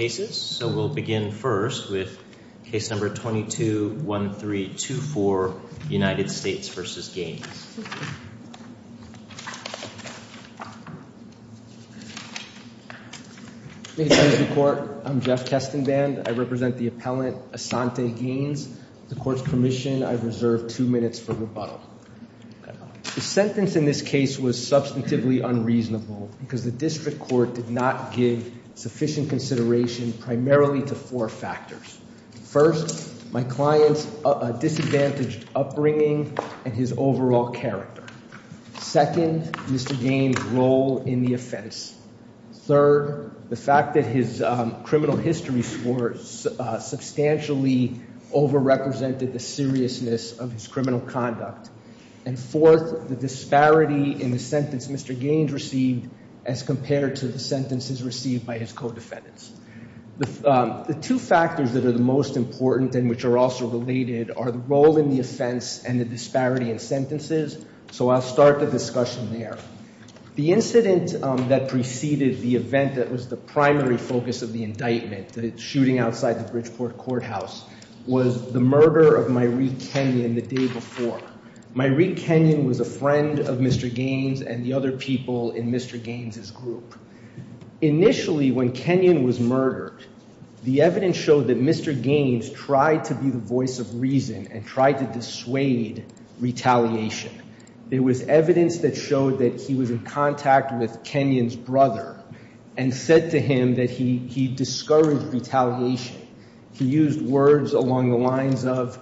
I'm Jeff Kestenband. I represent the appellant, Asante Gaines. With the Court's permission, I reserve two minutes for rebuttal. The sentence in this case was substantively unreasonable because the District Court did not give sufficient consideration primarily to four factors. First, my client's disadvantaged upbringing and his overall character. Second, Mr. Gaines' role in the offense. Third, the fact that his criminal history score substantially over-represented the seriousness of his criminal conduct. And fourth, the disparity in the sentence Mr. Gaines received as compared to the sentences received by his co-defendants. The two factors that are the most important and which are also related are the role in the offense and the disparity in sentences, so I'll start the discussion there. The incident that preceded the event that was the primary focus of the indictment, the shooting outside the Bridgeport Courthouse, was the murder of Myreet Kenyon the day before. Myreet Kenyon was a friend of Mr. Gaines and the other people in Mr. Gaines' group. Initially, when Kenyon was murdered, the evidence showed that Mr. Gaines tried to be the voice of reason and tried to dissuade retaliation. There was evidence that showed that he was in contact with Kenyon's brother and said to him that he discouraged retaliation. He used words along the lines of,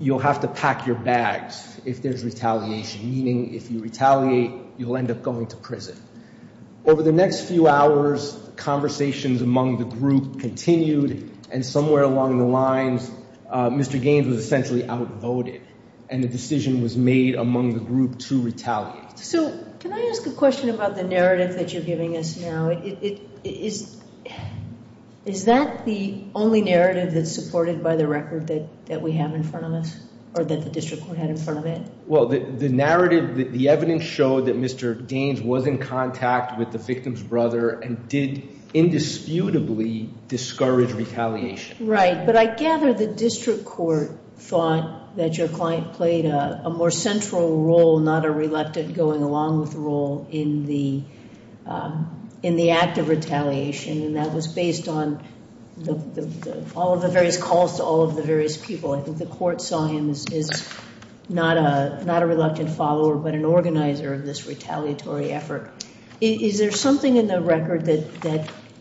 you'll have to pack your bags if there's retaliation, meaning if you retaliate, you'll end up going to prison. Over the next few hours, conversations among the group continued and somewhere along the lines, Mr. Gaines was essentially outvoted and a decision was made among the group to retaliate. So can I ask a question about the narrative that you're giving us now? Is that the only narrative that's supported by the record that we have in front of us or that the district court had in front of it? Well, the narrative, the evidence showed that Mr. Gaines was in contact with the victim's brother and did indisputably discourage retaliation. Right, but I gather the district court thought that your client played a more central role, not a reluctant going along with role, in the act of retaliation. And that was based on all of the various calls to all of the various people. I think the court saw him as not a reluctant follower, but an organizer of this retaliatory effort. Is there something in the record that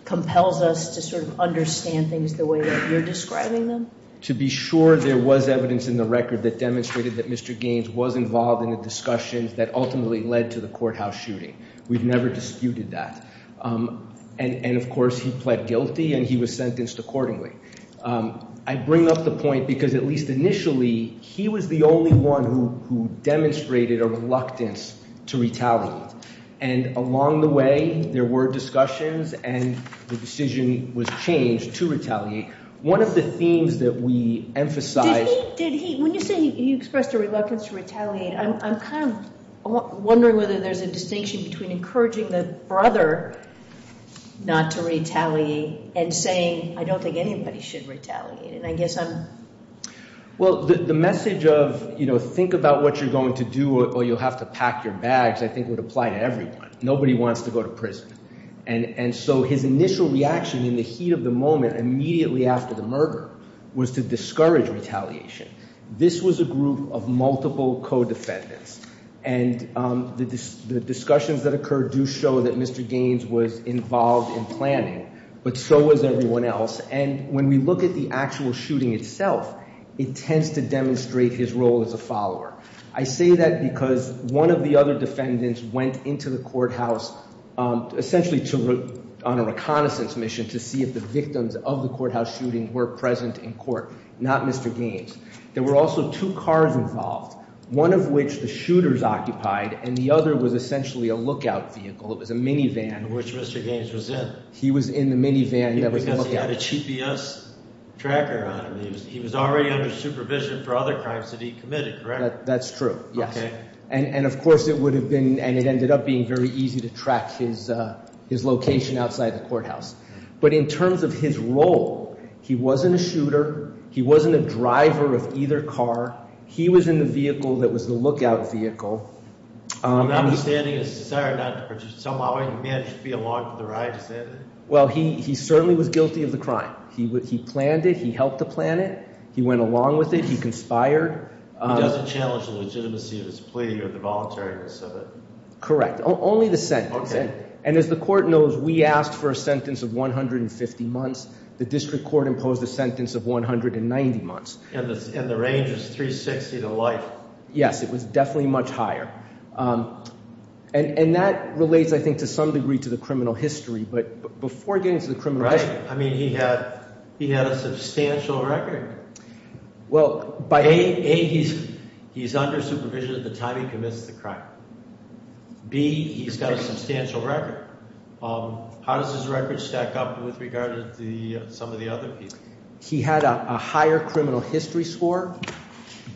compels us to sort of understand things the way that you're describing them? To be sure there was evidence in the record that demonstrated that Mr. Gaines was involved in the discussions that ultimately led to the courthouse shooting. We've never disputed that. And of course he pled guilty and he was sentenced accordingly. I bring up the point because at least initially, he was the only one who demonstrated a reluctance to retaliate. And along the way, there were discussions and the decision was changed to retaliate. One of the themes that we emphasize- When you say you expressed a reluctance to retaliate, I'm kind of wondering whether there's a distinction between encouraging the brother not to retaliate and saying I don't think anybody should retaliate. And I guess I'm- Well, the message of think about what you're going to do or you'll have to pack your bags I think would apply to everyone. Nobody wants to go to prison. And so his initial reaction in the heat of the moment immediately after the murder was to discourage retaliation. This was a group of multiple co-defendants. And the discussions that occurred do show that Mr. Gaines was involved in planning, but so was everyone else. And when we look at the actual shooting itself, it tends to demonstrate his role as a follower. I say that because one of the other defendants went into the courthouse essentially on a reconnaissance mission to see if the victims of the courthouse shooting were present in court, not Mr. Gaines. There were also two cars involved, one of which the shooters occupied and the other was essentially a lookout vehicle. It was a minivan- Which Mr. Gaines was in. He was in the minivan that was a lookout vehicle. Because he had a GPS tracker on him. He was already under supervision for other crimes that he committed, correct? That's true, yes. And of course it would have been – and it ended up being very easy to track his location outside the courthouse. But in terms of his role, he wasn't a shooter. He wasn't a driver of either car. He was in the vehicle that was the lookout vehicle. My understanding is that he somehow managed to be along for the ride, is that it? Well, he certainly was guilty of the crime. He planned it. He helped to plan it. He went along with it. He conspired. He doesn't challenge the legitimacy of his plea or the voluntariness of it? Correct. Only the sentence. And as the court knows, we asked for a sentence of 150 months. The district court imposed a sentence of 190 months. And the range was 360 to life. Yes, it was definitely much higher. And that relates, I think, to some degree to the criminal history. But before getting to the criminal history – I mean, he had a substantial record. Well, by – A, he's under supervision at the time he commits the crime. B, he's got a substantial record. How does his record stack up with regard to some of the other people? He had a higher criminal history score.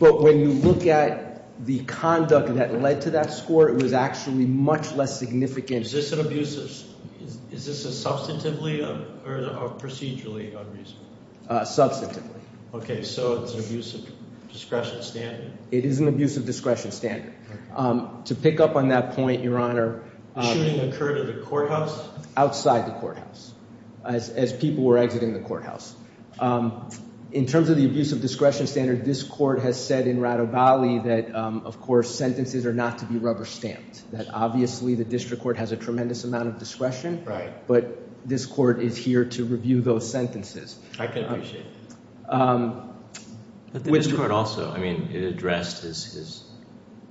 But when you look at the conduct that led to that score, it was actually much less significant. Is this an abusive – is this substantively or procedurally abusive? Substantively. Okay, so it's an abusive discretion standard. It is an abusive discretion standard. To pick up on that point, Your Honor – The shooting occurred at a courthouse? Outside the courthouse, as people were exiting the courthouse. In terms of the abusive discretion standard, this Court has said in Radovalli that, of course, sentences are not to be rubber-stamped, that obviously the District Court has a tremendous amount of discretion. But this Court is here to review those sentences. I can appreciate that. But this Court also, I mean, it addressed his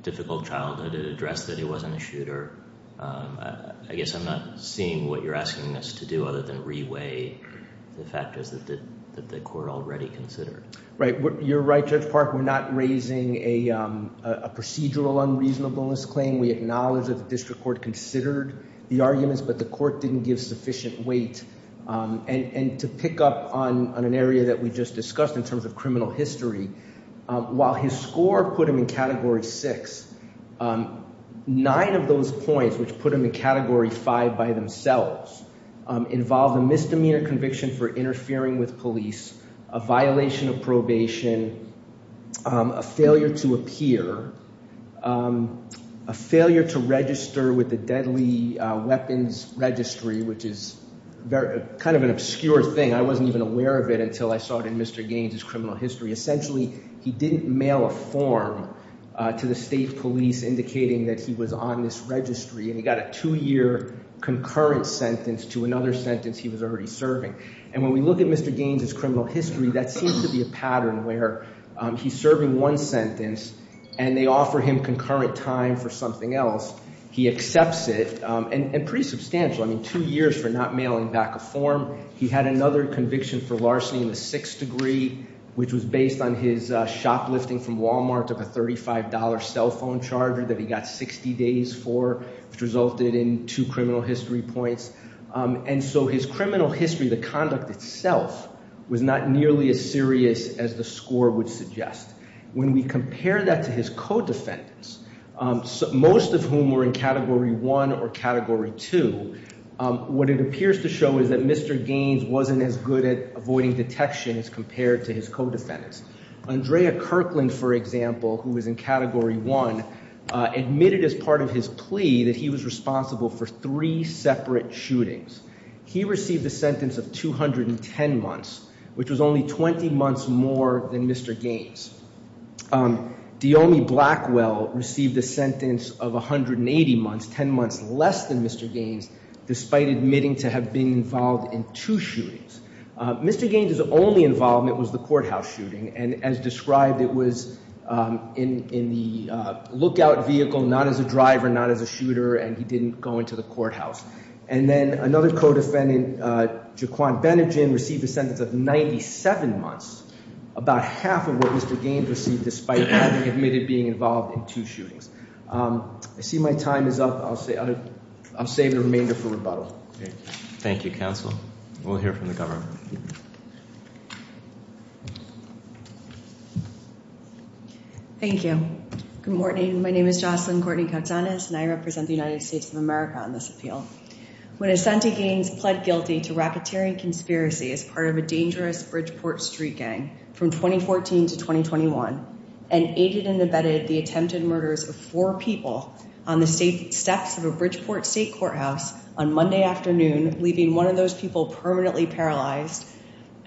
difficult childhood. It addressed that he wasn't a shooter. I guess I'm not seeing what you're asking us to do other than re-weigh the factors that the Court already considered. Right. You're right, Judge Park. We're not raising a procedural unreasonableness claim. We acknowledge that the District Court considered the arguments, but the Court didn't give sufficient weight. And to pick up on an area that we just discussed in terms of criminal history, while his score put him in Category 6, nine of those points which put him in Category 5 by themselves involved a misdemeanor conviction for interfering with police, a violation of probation, a failure to appear, a failure to register with the Deadly Weapons Registry, which is kind of an obscure thing. I wasn't even aware of it until I saw it in Mr. Gaines' criminal history. Essentially, he didn't mail a form to the state police indicating that he was on this registry, and he got a two-year concurrent sentence to another sentence he was already serving. And when we look at Mr. Gaines' criminal history, that seems to be a pattern where he's serving one sentence and they offer him concurrent time for something else. He accepts it, and pretty substantial. I mean, two years for not mailing back a form. He had another conviction for larceny in the sixth degree, which was based on his shoplifting from Walmart of a $35 cell phone charger that he got 60 days for, which resulted in two criminal history points. And so his criminal history, the conduct itself, was not nearly as serious as the score would suggest. When we compare that to his co-defendants, most of whom were in Category 1 or Category 2, what it appears to show is that Mr. Gaines wasn't as good at avoiding detection as compared to his co-defendants. Andrea Kirkland, for example, who was in Category 1, admitted as part of his plea that he was responsible for three separate shootings. He received a sentence of 210 months, which was only 20 months more than Mr. Gaines. Deomi Blackwell received a sentence of 180 months, 10 months less than Mr. Gaines, despite admitting to have been involved in two shootings. Mr. Gaines' only involvement was the courthouse shooting, and as described, it was in the lookout vehicle, not as a driver, not as a shooter, and he didn't go into the courthouse. And then another co-defendant, Jaquan Benegin, received a sentence of 97 months, about half of what Mr. Gaines received despite having admitted being involved in two shootings. I see my time is up. I'll save the remainder for rebuttal. Thank you, counsel. We'll hear from the governor. Thank you. Good morning. My name is Jocelyn Courtney-Coxanes, and I represent the United States of America on this appeal. When Asante Gaines pled guilty to racketeering conspiracy as part of a dangerous Bridgeport street gang from 2014 to 2021 and aided and abetted the attempted murders of four people on the steps of a Bridgeport state courthouse on Monday afternoon, leaving one of those people permanently paralyzed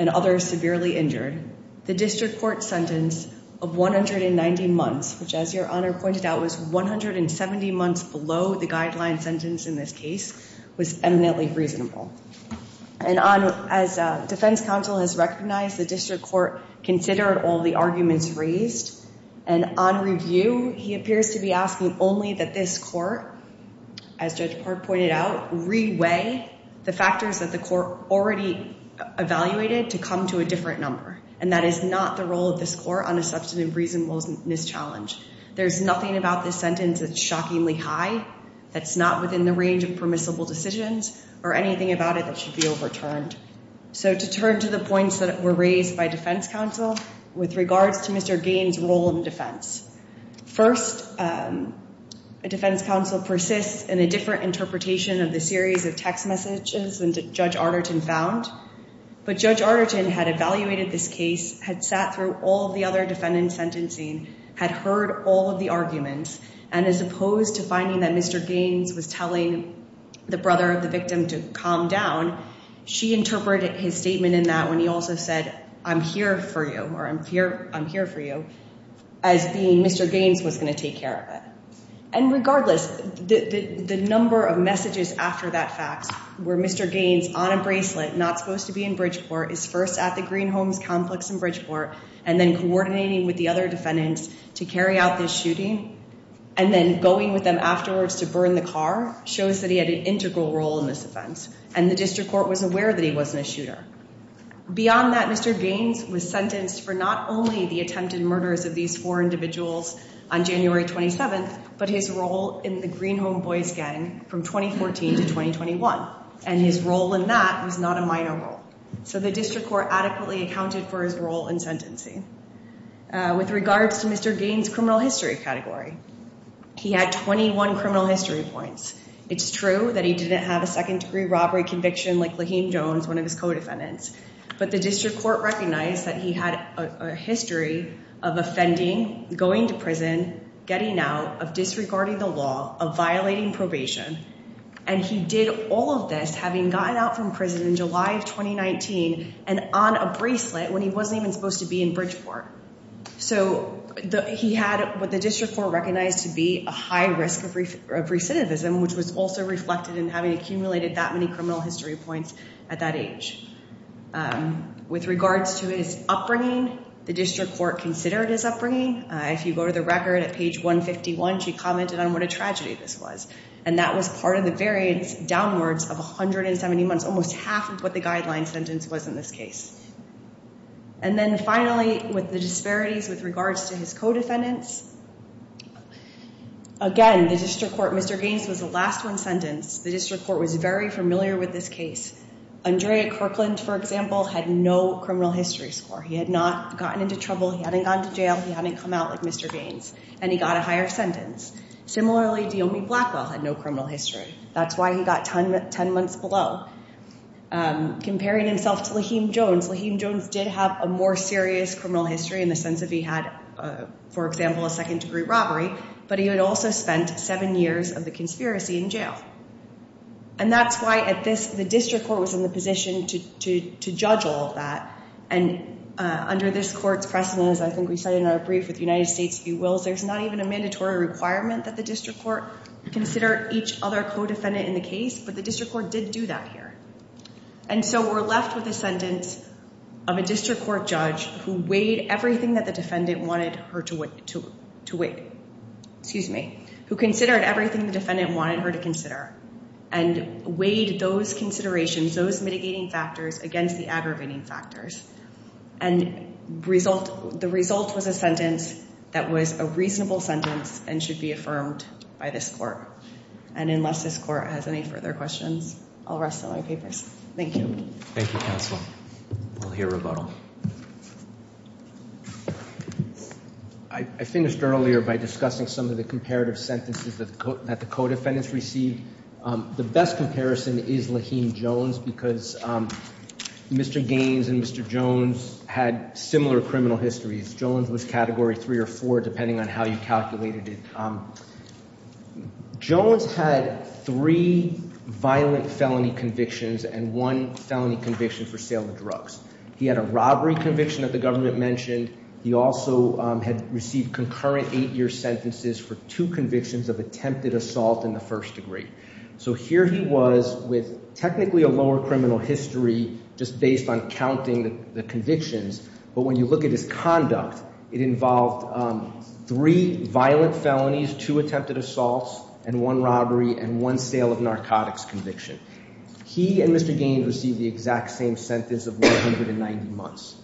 and others severely injured, the district court sentence of 190 months, which, as your honor pointed out, was 170 months below the guideline sentence in this case, was eminently reasonable. And as defense counsel has recognized, the district court considered all the arguments raised, and on review, he appears to be asking only that this court, as Judge Park pointed out, reweigh the factors that the court already evaluated to come to a different number, and that is not the role of this court on a substantive reasonableness challenge. There's nothing about this sentence that's shockingly high, that's not within the range of permissible decisions, or anything about it that should be overturned. So to turn to the points that were raised by defense counsel with regards to Mr. Gaines' role in defense. First, a defense counsel persists in a different interpretation of the series of text messages than Judge Arterton found, but Judge Arterton had evaluated this case, had sat through all the other defendant sentencing, had heard all of the arguments, and as opposed to finding that Mr. Gaines was telling the brother of the victim to calm down, she interpreted his statement in that when he also said, I'm here for you, or I'm here for you, as being Mr. Gaines was going to take care of it. And regardless, the number of messages after that fax where Mr. Gaines, on a bracelet, not supposed to be in Bridgeport, is first at the Green Homes complex in Bridgeport, and then coordinating with the other defendants to carry out this shooting, and then going with them afterwards to burn the car, shows that he had an integral role in this offense, and the district court was aware that he wasn't a shooter. Beyond that, Mr. Gaines was sentenced for not only the attempted murders of these four individuals on January 27th, but his role in the Green Home Boys gang from 2014 to 2021. And his role in that was not a minor role. So the district court adequately accounted for his role in sentencing. With regards to Mr. Gaines' criminal history category, he had 21 criminal history points. It's true that he didn't have a second-degree robbery conviction like Lahim Jones, one of his co-defendants, but the district court recognized that he had a history of offending, going to prison, getting out, of disregarding the law, of violating probation, and he did all of this having gotten out from prison in July of 2019 and on a bracelet when he wasn't even supposed to be in Bridgeport. So he had what the district court recognized to be a high risk of recidivism, which was also reflected in having accumulated that many criminal history points at that age. With regards to his upbringing, the district court considered his upbringing. If you go to the record at page 151, she commented on what a tragedy this was, and that was part of the variance downwards of 170 months, almost half of what the guideline sentence was in this case. And then finally, with the disparities with regards to his co-defendants, again, the district court, Mr. Gaines was the last one sentenced. The district court was very familiar with this case. Andrea Kirkland, for example, had no criminal history score. He had not gotten into trouble. He hadn't gone to jail. He hadn't come out like Mr. Gaines, and he got a higher sentence. Similarly, Deomi Blackwell had no criminal history. That's why he got 10 months below. Comparing himself to Laheem Jones, Laheem Jones did have a more serious criminal history in the sense of he had, for example, a second-degree robbery, but he had also spent seven years of the conspiracy in jail. And that's why the district court was in the position to judge all of that. And under this court's precedent, as I think we said in our brief with the United States, if you will, there's not even a mandatory requirement that the district court consider each other co-defendant in the case, but the district court did do that here. And so we're left with a sentence of a district court judge who weighed everything that the defendant wanted her to weigh, who considered everything the defendant wanted her to consider and weighed those considerations, those mitigating factors, against the aggravating factors. And the result was a sentence that was a reasonable sentence and should be affirmed by this court. And unless this court has any further questions, I'll rest on my papers. Thank you. Thank you, counsel. We'll hear rebuttal. I finished earlier by discussing some of the comparative sentences that the co-defendants received. The best comparison is Lahim Jones because Mr. Gaines and Mr. Jones had similar criminal histories. Jones was Category 3 or 4, depending on how you calculated it. Jones had three violent felony convictions and one felony conviction for sale of drugs. He had a robbery conviction that the government mentioned. He also had received concurrent eight-year sentences for two convictions of attempted assault in the first degree. So here he was with technically a lower criminal history just based on counting the convictions, but when you look at his conduct, it involved three violent felonies, two attempted assaults, and one robbery and one sale of narcotics conviction. He and Mr. Gaines received the exact same sentence of 190 months.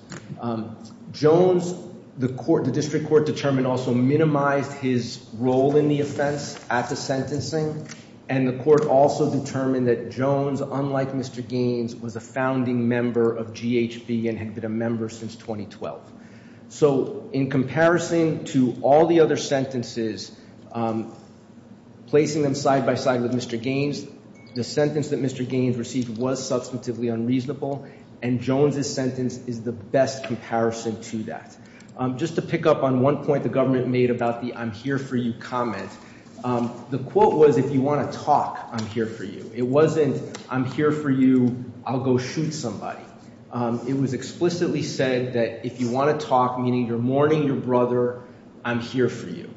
Jones, the district court determined, also minimized his role in the offense at the sentencing, and the court also determined that Jones, unlike Mr. Gaines, was a founding member of GHB and had been a member since 2012. So in comparison to all the other sentences, placing them side by side with Mr. Gaines, the sentence that Mr. Gaines received was substantively unreasonable, and Jones' sentence is the best comparison to that. Just to pick up on one point the government made about the I'm here for you comment, the quote was if you want to talk, I'm here for you. It wasn't I'm here for you, I'll go shoot somebody. It was explicitly said that if you want to talk, meaning you're mourning your brother, I'm here for you.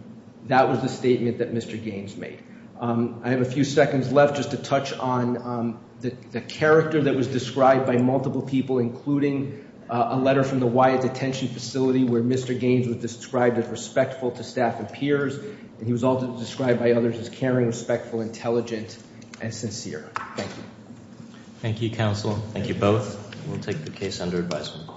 That was the statement that Mr. Gaines made. I have a few seconds left just to touch on the character that was described by multiple people, including a letter from the Wyatt Detention Facility where Mr. Gaines was described as respectful to staff and peers, and he was also described by others as caring, respectful, intelligent, and sincere. Thank you. Thank you, counsel. Thank you both. We'll take the case under advisement.